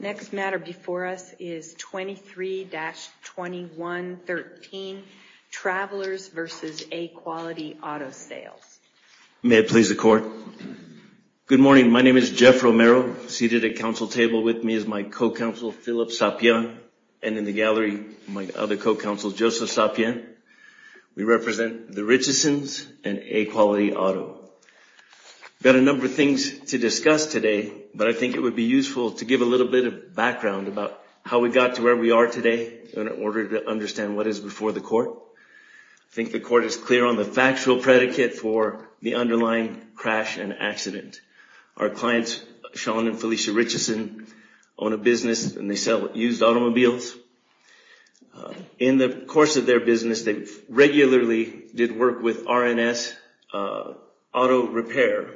Next matter before us is 23-2113, Travelers versus A-Quality Auto Sales. May it please the court. Good morning, my name is Jeff Romero, seated at council table with me is my co-counsel, Philip Sapien, and in the gallery, my other co-counsel, Joseph Sapien. We represent the Richesons and A-Quality Auto. Got a number of things to discuss today, but I think it would be useful to give a little bit of background about how we got to where we are today in order to understand what is before the court. I think the court is clear on the factual predicate for the underlying crash and accident. Our clients, Sean and Felicia Richeson, own a business and they sell used automobiles. In the course of their business, they regularly did work with RNS Auto Repair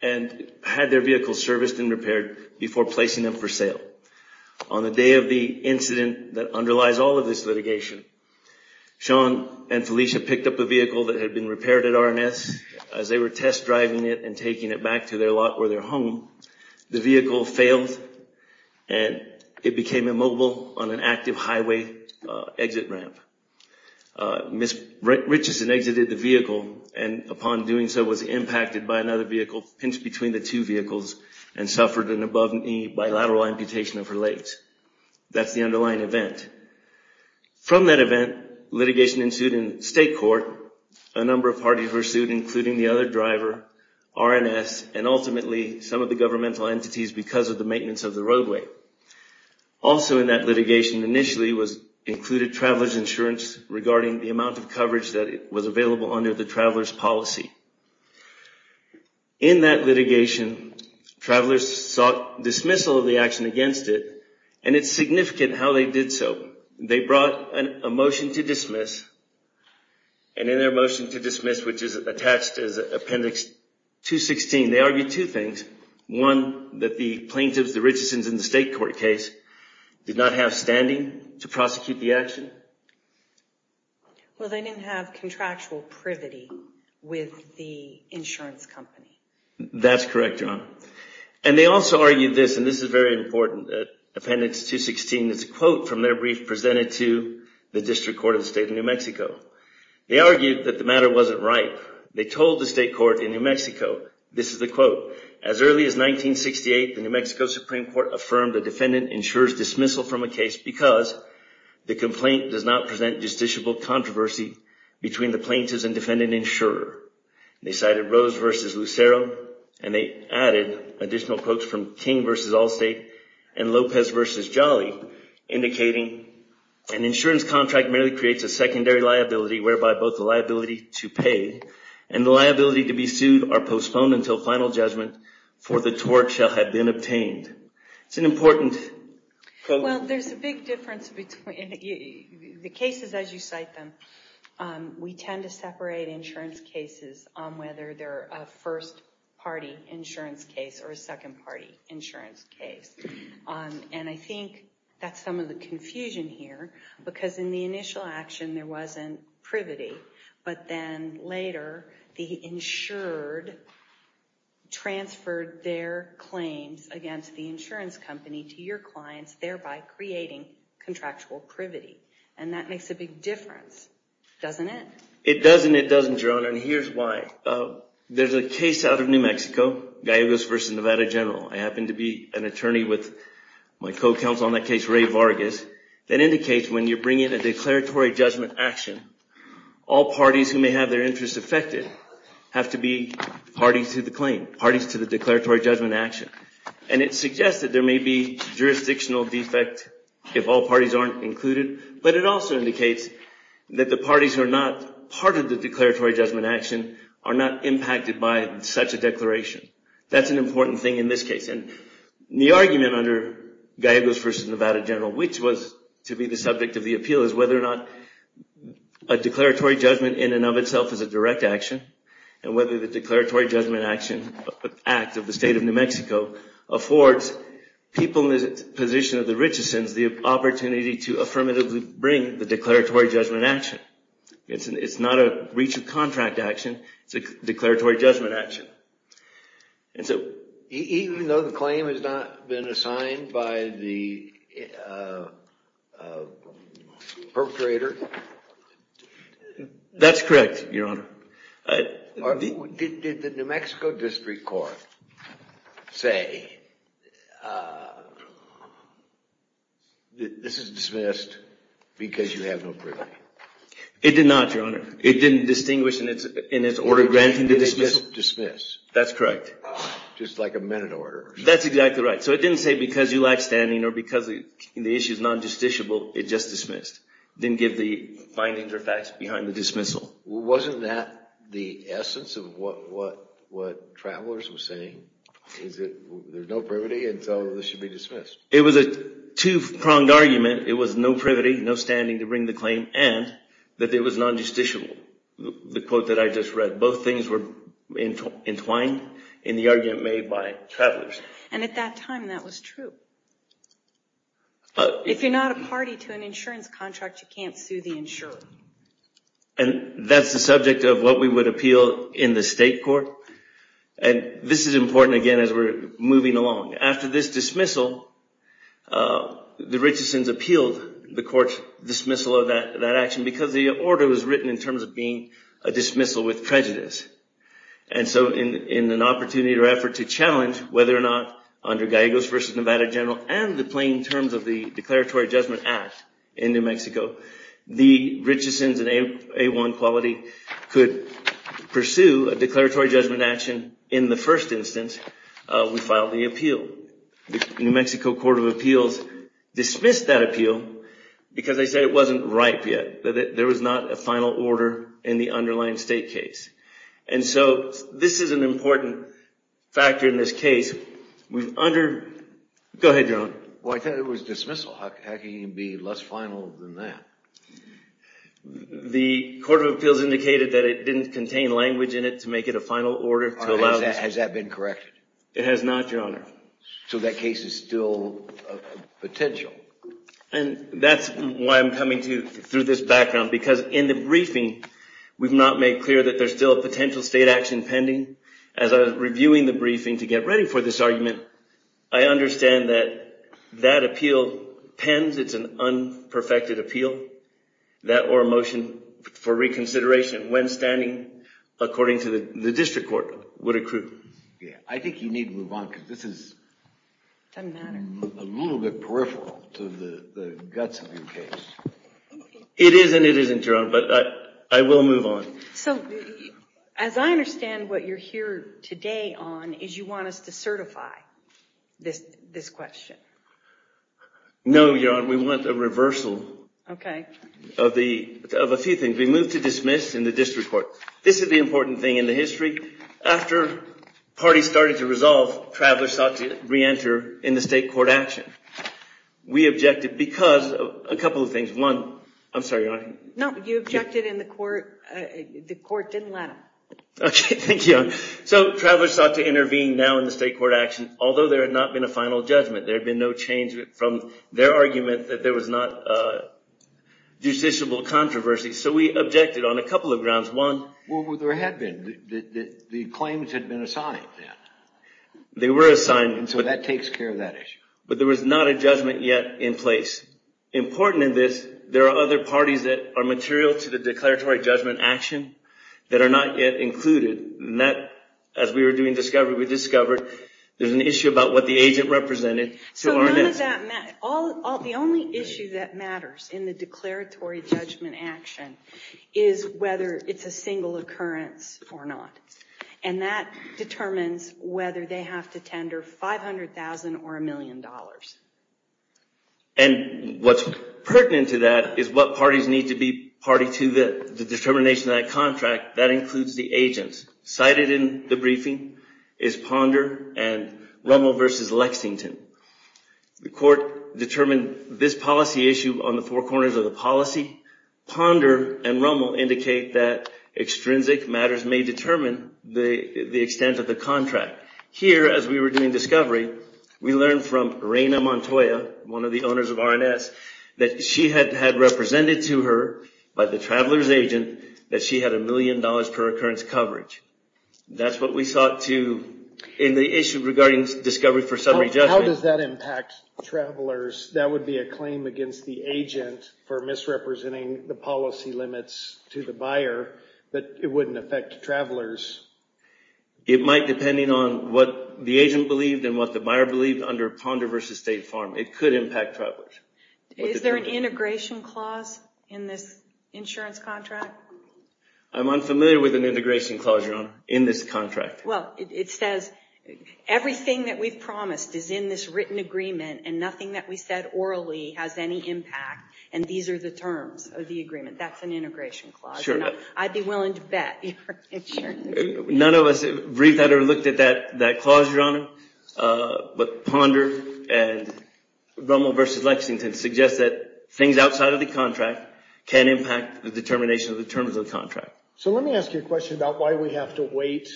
and had their vehicles serviced and repaired before placing them for sale. On the day of the incident that underlies all of this litigation, Sean and Felicia picked up a vehicle that had been repaired at RNS. As they were test driving it and taking it back to their lot or their home, the vehicle failed and it became immobile on an active highway exit ramp. Ms. Richeson exited the vehicle and upon doing so was impacted by another vehicle, pinched between the two vehicles, and suffered an above knee bilateral amputation of her legs. That's the underlying event. From that event, litigation ensued in state court. A number of parties were sued, including the other driver, RNS, and ultimately some of the governmental entities because of the maintenance of the roadway. Also in that litigation, initially, was included traveler's insurance regarding the amount of coverage that was available under the traveler's policy. In that litigation, travelers sought dismissal of the action against it and it's significant how they did so. They brought a motion to dismiss and in their motion to dismiss, which is attached as Appendix 216, they argued two things. One, that the plaintiffs, the Richesons in the state court case, did not have standing to prosecute the action. Well, they didn't have contractual privity with the insurance company. That's correct, John. And they also argued this, and this is very important, Appendix 216 is a quote from their brief presented to the District Court of the State of New Mexico. They argued that the matter wasn't right. They told the state court in New Mexico, this is the quote, as early as 1968, the New Mexico Supreme Court affirmed the defendant ensures dismissal from a case because the complaint does not present justiciable controversy between the plaintiffs and defendant insurer. They cited Rose v. Lucero and they added additional quotes from King v. Allstate and Lopez v. Jolly indicating an insurance contract merely creates a secondary liability whereby both the liability to pay and the liability to be sued are postponed until final judgment for the tort shall have been obtained. It's an important quote. Well, there's a big difference between the cases as you cite them. We tend to separate insurance cases on whether they're a first party insurance case or a second party insurance case. And I think that's some of the confusion here because in the initial action there wasn't privity, but then later the insured transferred their claims against the insurance company to your clients, thereby creating contractual privity. And that makes a big difference, doesn't it? It does and it doesn't, Your Honor, and here's why. There's a case out of New Mexico, Gallegos v. Nevada General. I happen to be an attorney with my co-counsel on that case, Ray Vargas, that indicates when you bring in a declaratory judgment action, all parties who may have their interests affected have to be parties to the claim, parties to the declaratory judgment action. And it suggests that there may be jurisdictional defect if all parties aren't included, but it also indicates that the parties who are not part of the declaratory judgment action are not impacted by such a declaration. That's an important thing in this case. The argument under Gallegos v. Nevada General, which was to be the subject of the appeal, is whether or not a declaratory judgment in and of itself is a direct action and whether the declaratory judgment action act of the state of New Mexico affords people in the position of the Richesons the opportunity to affirmatively bring the declaratory judgment action. It's not a breach of contract action, it's a declaratory judgment action. And so even though the claim has not been assigned by the perpetrator? That's correct, Your Honor. Did the New Mexico District Court say this is dismissed because you have no privilege? It did not, Your Honor. It didn't distinguish in its order of granting the dismissal? That's correct. Just like a minute order? That's exactly right. So it didn't say because you lack standing or because the issue is non-justiciable, it just dismissed. Didn't give the findings or facts behind the dismissal. Wasn't that the essence of what Travelers was saying? Is it there's no privity and so this should be dismissed? It was a two-pronged argument. It was no privity, no standing to bring the claim, and that it was non-justiciable. The quote that I just read. Both things were entwined in the argument made by Travelers. And at that time, that was true. If you're not a party to an insurance contract, you can't sue the insurer. And that's the subject of what we would appeal in the state court. And this is important, again, as we're moving along. After this dismissal, the Richesons appealed the court's dismissal of that action because the order was written in terms of being a dismissal with prejudice. And so in an opportunity or effort to challenge whether or not under Gallegos versus Nevada General and the plain terms of the Declaratory Judgment Act in New Mexico, the Richesons in A1 quality could pursue a declaratory judgment action in the first instance, we filed the appeal. New Mexico Court of Appeals dismissed that appeal because they said it wasn't ripe yet, that there was not a final order in the underlying state case. And so this is an important factor in this case. Go ahead, Your Honor. Well, I thought it was dismissal. How can you be less final than that? The Court of Appeals indicated that it didn't contain language in it to make it a final order to allow. Has that been corrected? It has not, Your Honor. So that case is still potential. And that's why I'm coming to you through this background. Because in the briefing, we've not made clear that there's still a potential state action pending. As I was reviewing the briefing to get ready for this argument, I understand that that appeal pens. It's an unperfected appeal. That or a motion for reconsideration when standing according to the district court would accrue. I think you need to move on because this is a little bit peripheral to the Gutzman case. It is and it isn't, Your Honor, but I will move on. So as I understand what you're here today on is you want us to certify this question. No, Your Honor, we want a reversal of a few things. We move to dismiss in the district court. This is the important thing in the history. After parties started to resolve, travelers sought to re-enter in the state court action. We objected because of a couple of things. One, I'm sorry, Your Honor. No, you objected in the court. The court didn't let them. OK, thank you, Your Honor. So travelers sought to intervene now in the state court action, although there had not been a final judgment. There had been no change from their argument that there was not justiciable controversy. So we objected on a couple of grounds. One, what there had been. The claims had been assigned then. They were assigned. And so that takes care of that issue. But there was not a judgment yet in place. Important in this, there are other parties that are material to the declaratory judgment action that are not yet included. As we were doing discovery, we discovered there's an issue about what the agent represented. So none of that matters. The only issue that matters in the declaratory judgment action is whether it's a single occurrence or not. And that determines whether they have to tender $500,000 or $1 million. And what's pertinent to that is what parties need to be party to the determination of that contract. That includes the agents. Cited in the briefing is Ponder and Rummel versus Lexington. The court determined this policy issue on the four corners of the policy. Ponder and Rummel indicate that extrinsic matters may determine the extent of the contract. Here, as we were doing discovery, we learned from Raina Montoya, one of the owners of R&S, that she had had represented to her by the traveler's agent that she had $1 million per occurrence coverage. That's what we sought to, in the issue regarding discovery for summary judgment. How does that impact travelers? That would be a claim against the agent for misrepresenting the policy limits to the buyer. But it wouldn't affect travelers. It might, depending on what the agent believed and what the buyer believed under Ponder versus State Farm. It could impact travelers. Is there an integration clause in this insurance contract? I'm unfamiliar with an integration clause in this contract. Well, it says everything that we've promised is in this written agreement. And nothing that we said orally has any impact. And these are the terms of the agreement. That's an integration clause. I'd be willing to bet. None of us briefed or looked at that clause, Your Honor. But Ponder and Rommel versus Lexington suggest that things outside of the contract can impact the determination of the terms of the contract. So let me ask you a question about why we have to wait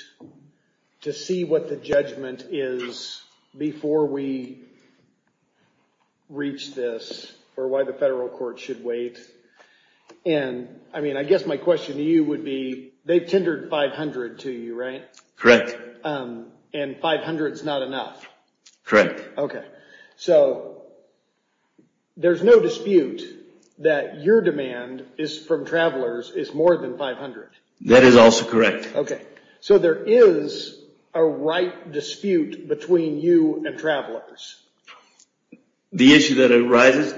to see what the judgment is before we reach this or why the federal court should wait. And I mean, I guess my question to you would be, they've tendered $500 to you, right? Correct. And $500 is not enough. Correct. OK. So there's no dispute that your demand from travelers is more than $500. That is also correct. OK. So there is a right dispute between you and travelers. The issue that arises,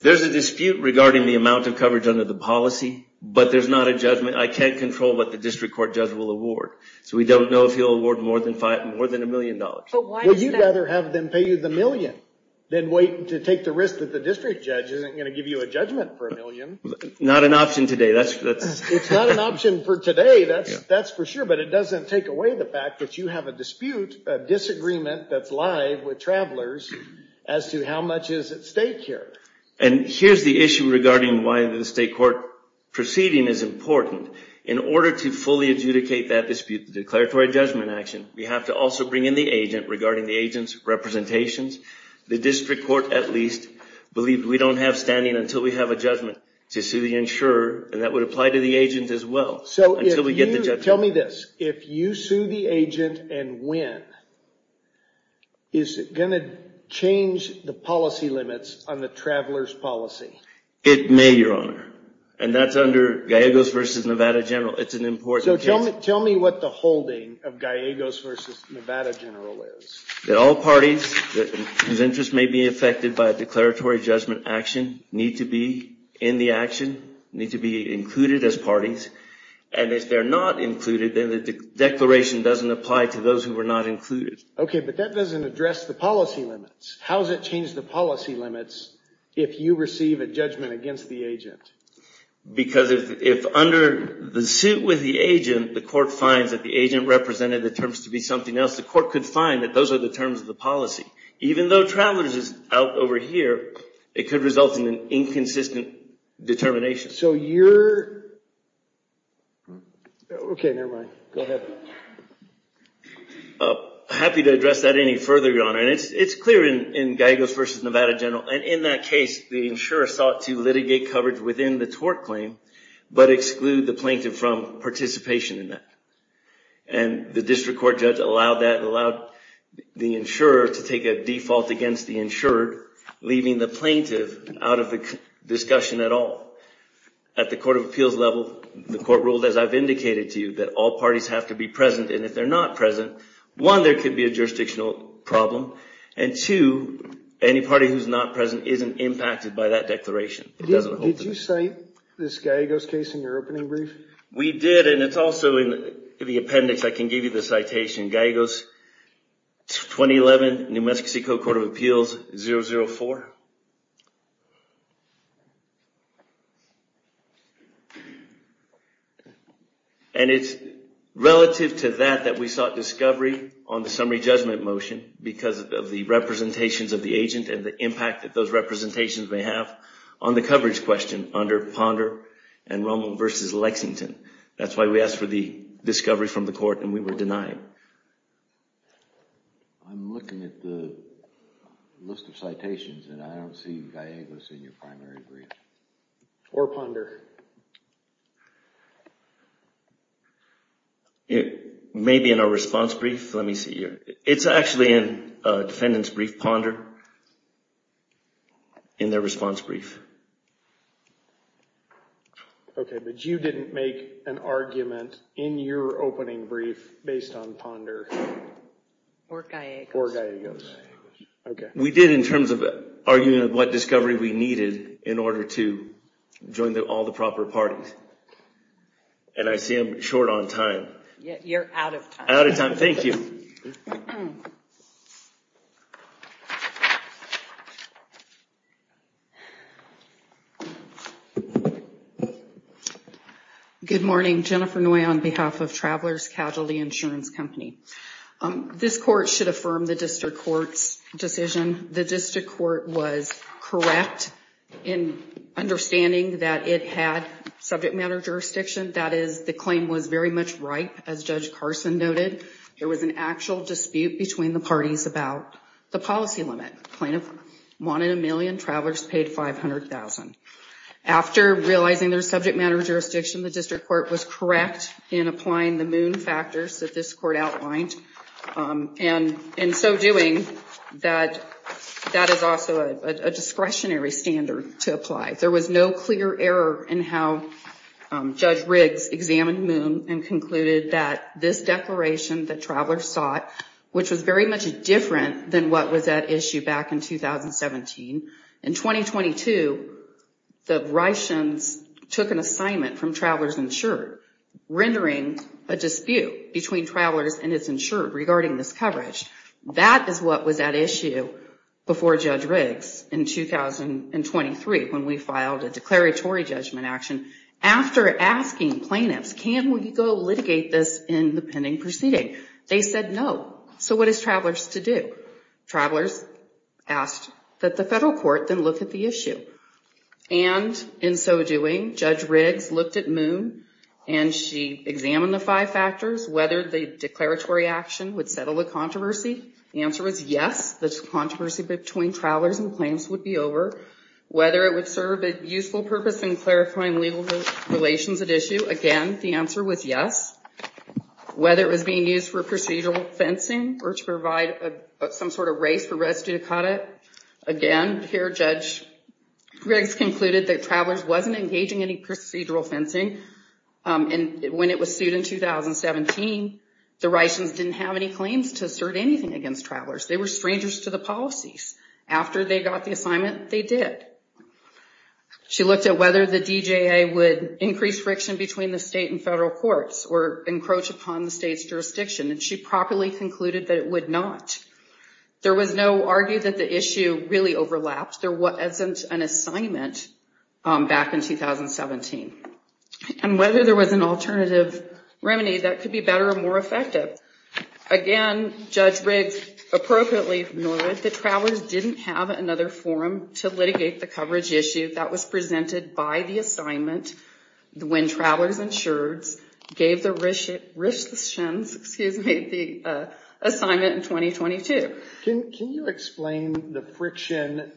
there's a dispute regarding the amount of coverage under the policy, but there's not a judgment. I can't control what the district court judge will award. So we don't know if he'll award more than $1 million. But why is that? Well, you'd rather have them pay you the million than wait to take the risk that the district judge isn't going to give you a judgment for $1 million. Not an option today. It's not an option for today, that's for sure. But it doesn't take away the fact that you have a dispute, a disagreement that's with travelers, as to how much is at stake here. And here's the issue regarding why the state court proceeding is important. In order to fully adjudicate that dispute, the declaratory judgment action, we have to also bring in the agent regarding the agent's representations. The district court, at least, believe we don't have standing until we have a judgment to sue the insurer. And that would apply to the agent as well. So if you tell me this, if you sue the agent and win, is it going to change the policy limits on the traveler's policy? It may, Your Honor. And that's under Gallegos v. Nevada General. It's an important case. Tell me what the holding of Gallegos v. Nevada General is. That all parties whose interests may be affected by a declaratory judgment action need to be in the action, need to be included as parties. And if they're not included, then the declaration doesn't apply to those who were not included. OK, but that doesn't address the policy limits. How does it change the policy limits if you receive a judgment against the agent? Because if under the suit with the agent, the court finds that the agent represented the terms to be something else, the court could find that those are the terms of the policy. Even though travelers is out over here, it could result in an inconsistent determination. So you're, OK, never mind. Go ahead. Happy to address that any further, Your Honor. It's clear in Gallegos v. Nevada General. And in that case, the insurer sought to litigate coverage within the tort claim, but exclude the plaintiff from participation in that. And the district court judge allowed the insurer to take a default against the insurer, leaving the plaintiff out of the discussion at all. At the court of appeals level, the court has indicated to you that all parties have to be present. And if they're not present, one, there could be a jurisdictional problem. And two, any party who's not present isn't impacted by that declaration. It doesn't help them. Did you cite this Gallegos case in your opening brief? We did, and it's also in the appendix. I can give you the citation. Gallegos, 2011, New Mexico Court of Appeals, 004. OK. And it's relative to that that we sought discovery on the summary judgment motion because of the representations of the agent and the impact that those representations may have on the coverage question under Ponder and Roman v. Lexington. That's why we asked for the discovery from the court, and we were denied. I'm looking at the list of citations, and I don't see Gallegos in your primary brief. Or Ponder. Maybe in our response brief. Let me see here. It's actually in a defendant's brief, Ponder, in their response brief. OK, but you didn't make an argument in your opening brief based on Ponder. Or Gallegos. Or Gallegos. OK. We did in terms of arguing what discovery we needed in order to join all the proper parties. And I see I'm short on time. You're out of time. Out of time, thank you. Good morning. Jennifer Noy on behalf of Travelers Casualty Insurance Company. This court should affirm the district court's decision. The district court was correct in understanding that it had subject matter jurisdiction. That is, the claim was very much right. As Judge Carson noted, there was an actual dispute between the parties about the policy limit. One in a million travelers paid $500,000. After realizing their subject matter jurisdiction, the district court was correct in applying the moon factors that this court outlined. And in so doing, that is also a discretionary standard to apply. There was no clear error in how Judge Riggs examined moon and concluded that this declaration that travelers sought, which was very much different than what was at issue back in 2017. In 2022, the Ryschens took an assignment from Travelers Insured rendering a dispute between Travelers and its insured regarding this coverage. That is what was at issue before Judge Riggs in 2023, when we filed a declaratory judgment action. After asking plaintiffs, can we go litigate this in the pending proceeding? They said no. So what is Travelers to do? Travelers asked that the federal court then look at the issue. And in so doing, Judge Riggs looked at moon and she examined the five factors, whether the declaratory action would settle the controversy. The answer was yes, the controversy between Travelers and plaintiffs would be over. Whether it would serve a useful purpose in clarifying legal relations at issue. Again, the answer was yes. Whether it was being used for procedural fencing or to provide some sort of race for residue to cut it. Again, here Judge Riggs concluded that Travelers wasn't engaging any procedural fencing. And when it was sued in 2017, the Ryschens didn't have any claims to assert anything against Travelers. They were strangers to the policies. After they got the assignment, they did. She looked at whether the DJA would increase friction between the state and federal courts or encroach upon the state's jurisdiction. And she properly concluded that it would not. There was no argue that the issue really overlapped. There wasn't an assignment back in 2017. And whether there was an alternative remedy, that could be better or more effective. Again, Judge Riggs appropriately noted that Travelers didn't have another forum to litigate the coverage issue that was presented by the assignment when Travelers and Schurz gave the Ryschens the assignment in 2022. Can you explain the friction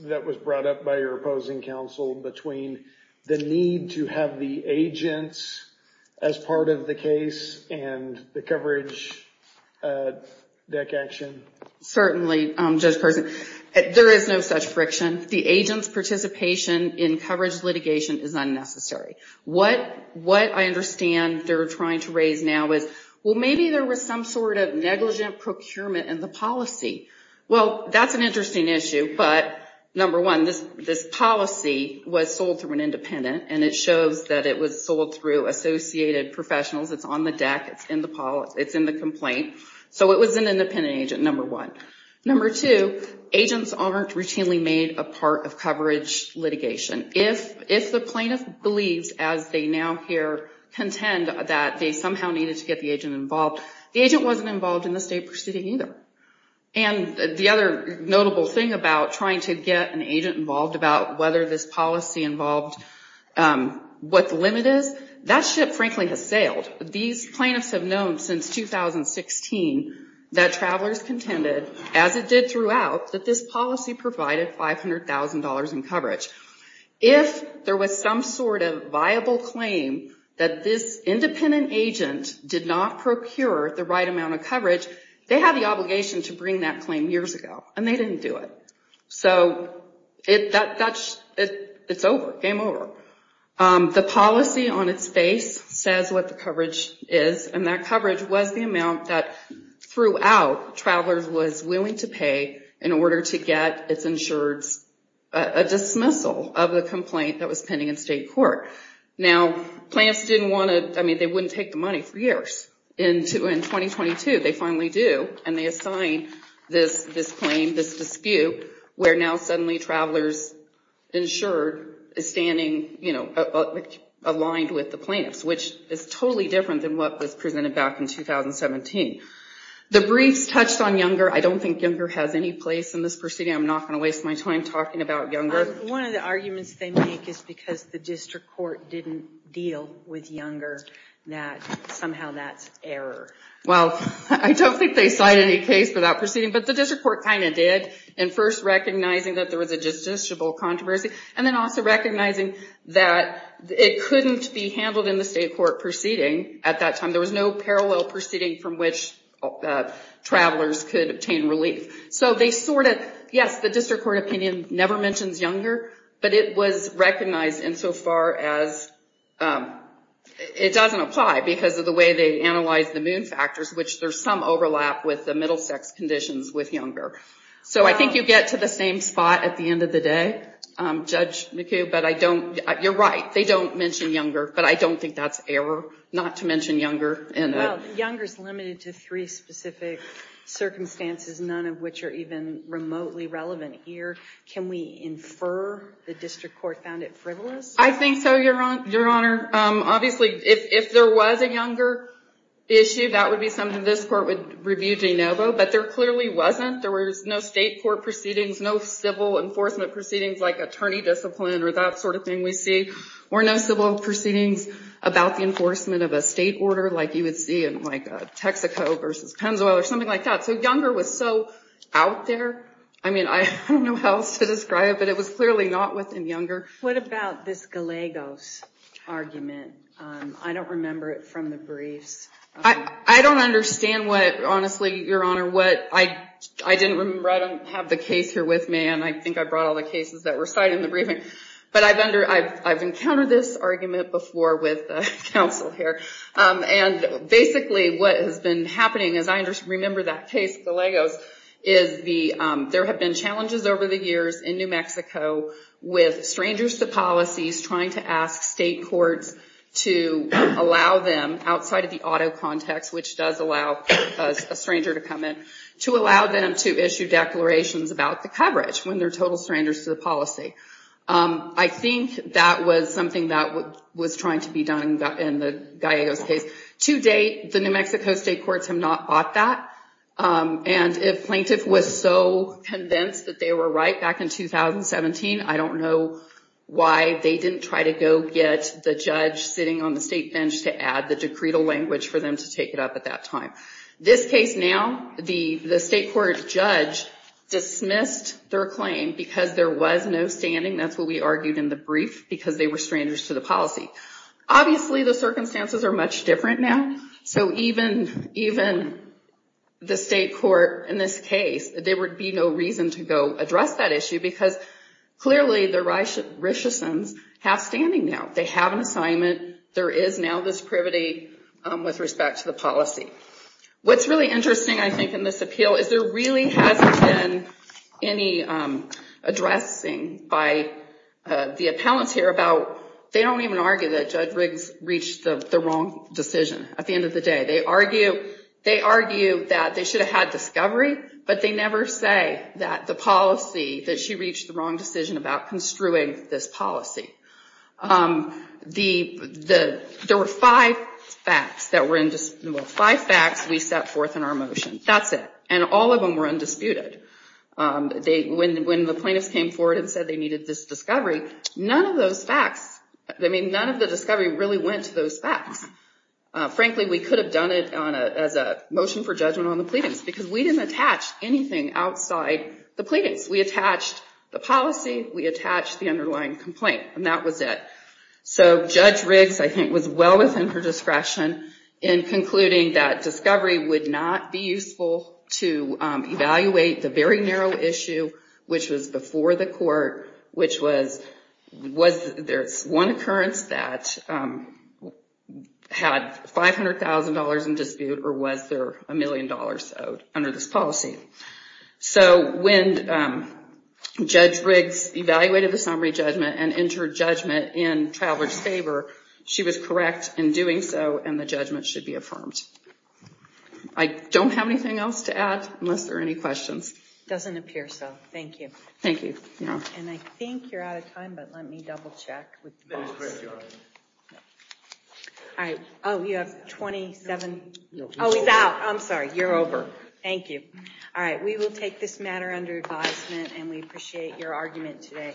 that was brought up by your opposing counsel between the need to have the agents as part of the case and the coverage deck action? Certainly, Judge Carson. There is no such friction. The agent's participation in coverage litigation is unnecessary. What I understand they're trying to raise now is, well, maybe there was some sort of negligent procurement in the policy. Well, that's an interesting issue. But number one, this policy was sold through an independent. And it shows that it was sold through associated professionals. It's on the deck. It's in the complaint. So it was an independent agent, number one. Number two, agents aren't routinely made a part of coverage litigation. If the plaintiff believes, as they now here contend, that they somehow needed to get the agent involved, the agent wasn't involved in the state proceeding either. And the other notable thing about trying to get an agent involved about whether this policy involved what the limit is, that ship, frankly, has sailed. These plaintiffs have known since 2016 that Travelers contended, as it did throughout, that this policy provided $500,000 in coverage. If there was some sort of viable claim that this independent agent did not procure the right amount of coverage, they had the obligation to bring that claim years ago. And they didn't do it. So it's over. Game over. The policy on its face says what the coverage is. And that coverage was the amount that, throughout, Travelers was willing to pay in order to get its insureds a dismissal of the complaint that was pending in state court. Now, plaintiffs didn't want to, I mean, they wouldn't take the money for years. In 2022, they finally do. And they assign this claim, this dispute, where now suddenly Travelers insured is standing aligned with the plaintiffs, which is totally different than what was presented back in 2017. The briefs touched on Younger. I don't think Younger has any place in this proceeding. I'm not going to waste my time talking about Younger. One of the arguments they make is because the district court didn't deal with Younger, that somehow that's error. Well, I don't think they cite any case for that proceeding. But the district court kind of did, in first recognizing that there was a justiciable controversy, and then also recognizing that it couldn't be handled in the state court proceeding at that time. There was no parallel proceeding from which Travelers could obtain relief. So they sort of, yes, the district court opinion never mentions Younger. But it was recognized insofar as it doesn't apply because of the way they analyze the moon factors, which there's some overlap with the middle sex conditions with Younger. So I think you get to the same spot at the end of the day, Judge McHugh. But I don't, you're right, they don't mention Younger. But I don't think that's error, not to mention Younger. Younger's limited to three specific circumstances, none of which are even remotely relevant here. Can we infer the district court found it frivolous? I think so, Your Honor. Obviously, if there was a Younger issue, that would be something this court would review de novo. But there clearly wasn't. There was no state court proceedings, no civil enforcement proceedings like attorney discipline or that sort of thing we see, or no civil proceedings about the enforcement of a state order like you would see in like Texaco versus Pennzoil or something like that. So Younger was so out there. I mean, I don't know how else to describe it. But it was clearly not within Younger. What about this Gallegos argument? I don't remember it from the briefs. I don't understand what, honestly, Your Honor, what I didn't remember. I don't have the case here with me. And I think I brought all the cases that were cited in the briefing. But I've encountered this argument before with counsel here. And basically, what has been happening is I remember that case, Gallegos, is there have been challenges over the years in New Mexico with strangers to policies trying to ask state courts to allow them outside of the auto context, which does allow a stranger to come in, to allow them to issue declarations about the coverage when they're total strangers to the policy. I think that was something that was trying to be done in the Gallegos case. To date, the New Mexico state courts have not fought that. And if Plaintiff was so convinced that they were right back in 2017, I don't know why they didn't try to go get the judge sitting on the state bench to add the decretal language for them to take it up at that time. This case now, the state court judge dismissed their claim because there was no standing. That's what we argued in the brief, because they were strangers to the policy. Obviously, the circumstances are much different now. So even the state court in this case, there would be no reason to go address that issue, because clearly, the Richesons have standing now. They have an assignment. There is now this privity with respect to the policy. What's really interesting, I think, in this appeal is there really hasn't been any addressing by the appellants here about, they don't even argue that Judge Riggs reached the wrong decision. At the end of the day, they argue that they should have had discovery, but they never say that the policy, that she reached the wrong decision about construing this policy. There were five facts that were in dispute. Five facts we set forth in our motion. That's it. And all of them were undisputed. When the plaintiffs came forward and said they needed this discovery, none of those facts, I mean, none of the discovery really went to those facts. Frankly, we could have done it as a motion for judgment on the pleadings, because we didn't attach anything outside the pleadings. We attached the policy. We attached the underlying complaint. And that was it. So Judge Riggs, I think, was well within her discretion in concluding that discovery would not be useful to evaluate the very narrow issue, which was before the court, which was, there's one occurrence that had $500,000 in dispute, or was there $1 million owed under this policy. So when Judge Riggs evaluated the summary judgment and entered judgment in Traveler's favor, she was correct in doing so, and the judgment should be affirmed. I don't have anything else to add, unless there are any questions. Doesn't appear so. Thank you. Thank you. And I think you're out of time, but let me double check with the box. That is correct, Your Honor. All right. Oh, you have 27. Oh, he's out. I'm sorry. You're over. Thank you. All right, we will take this matter under advisement, and we appreciate your argument today. Thank you.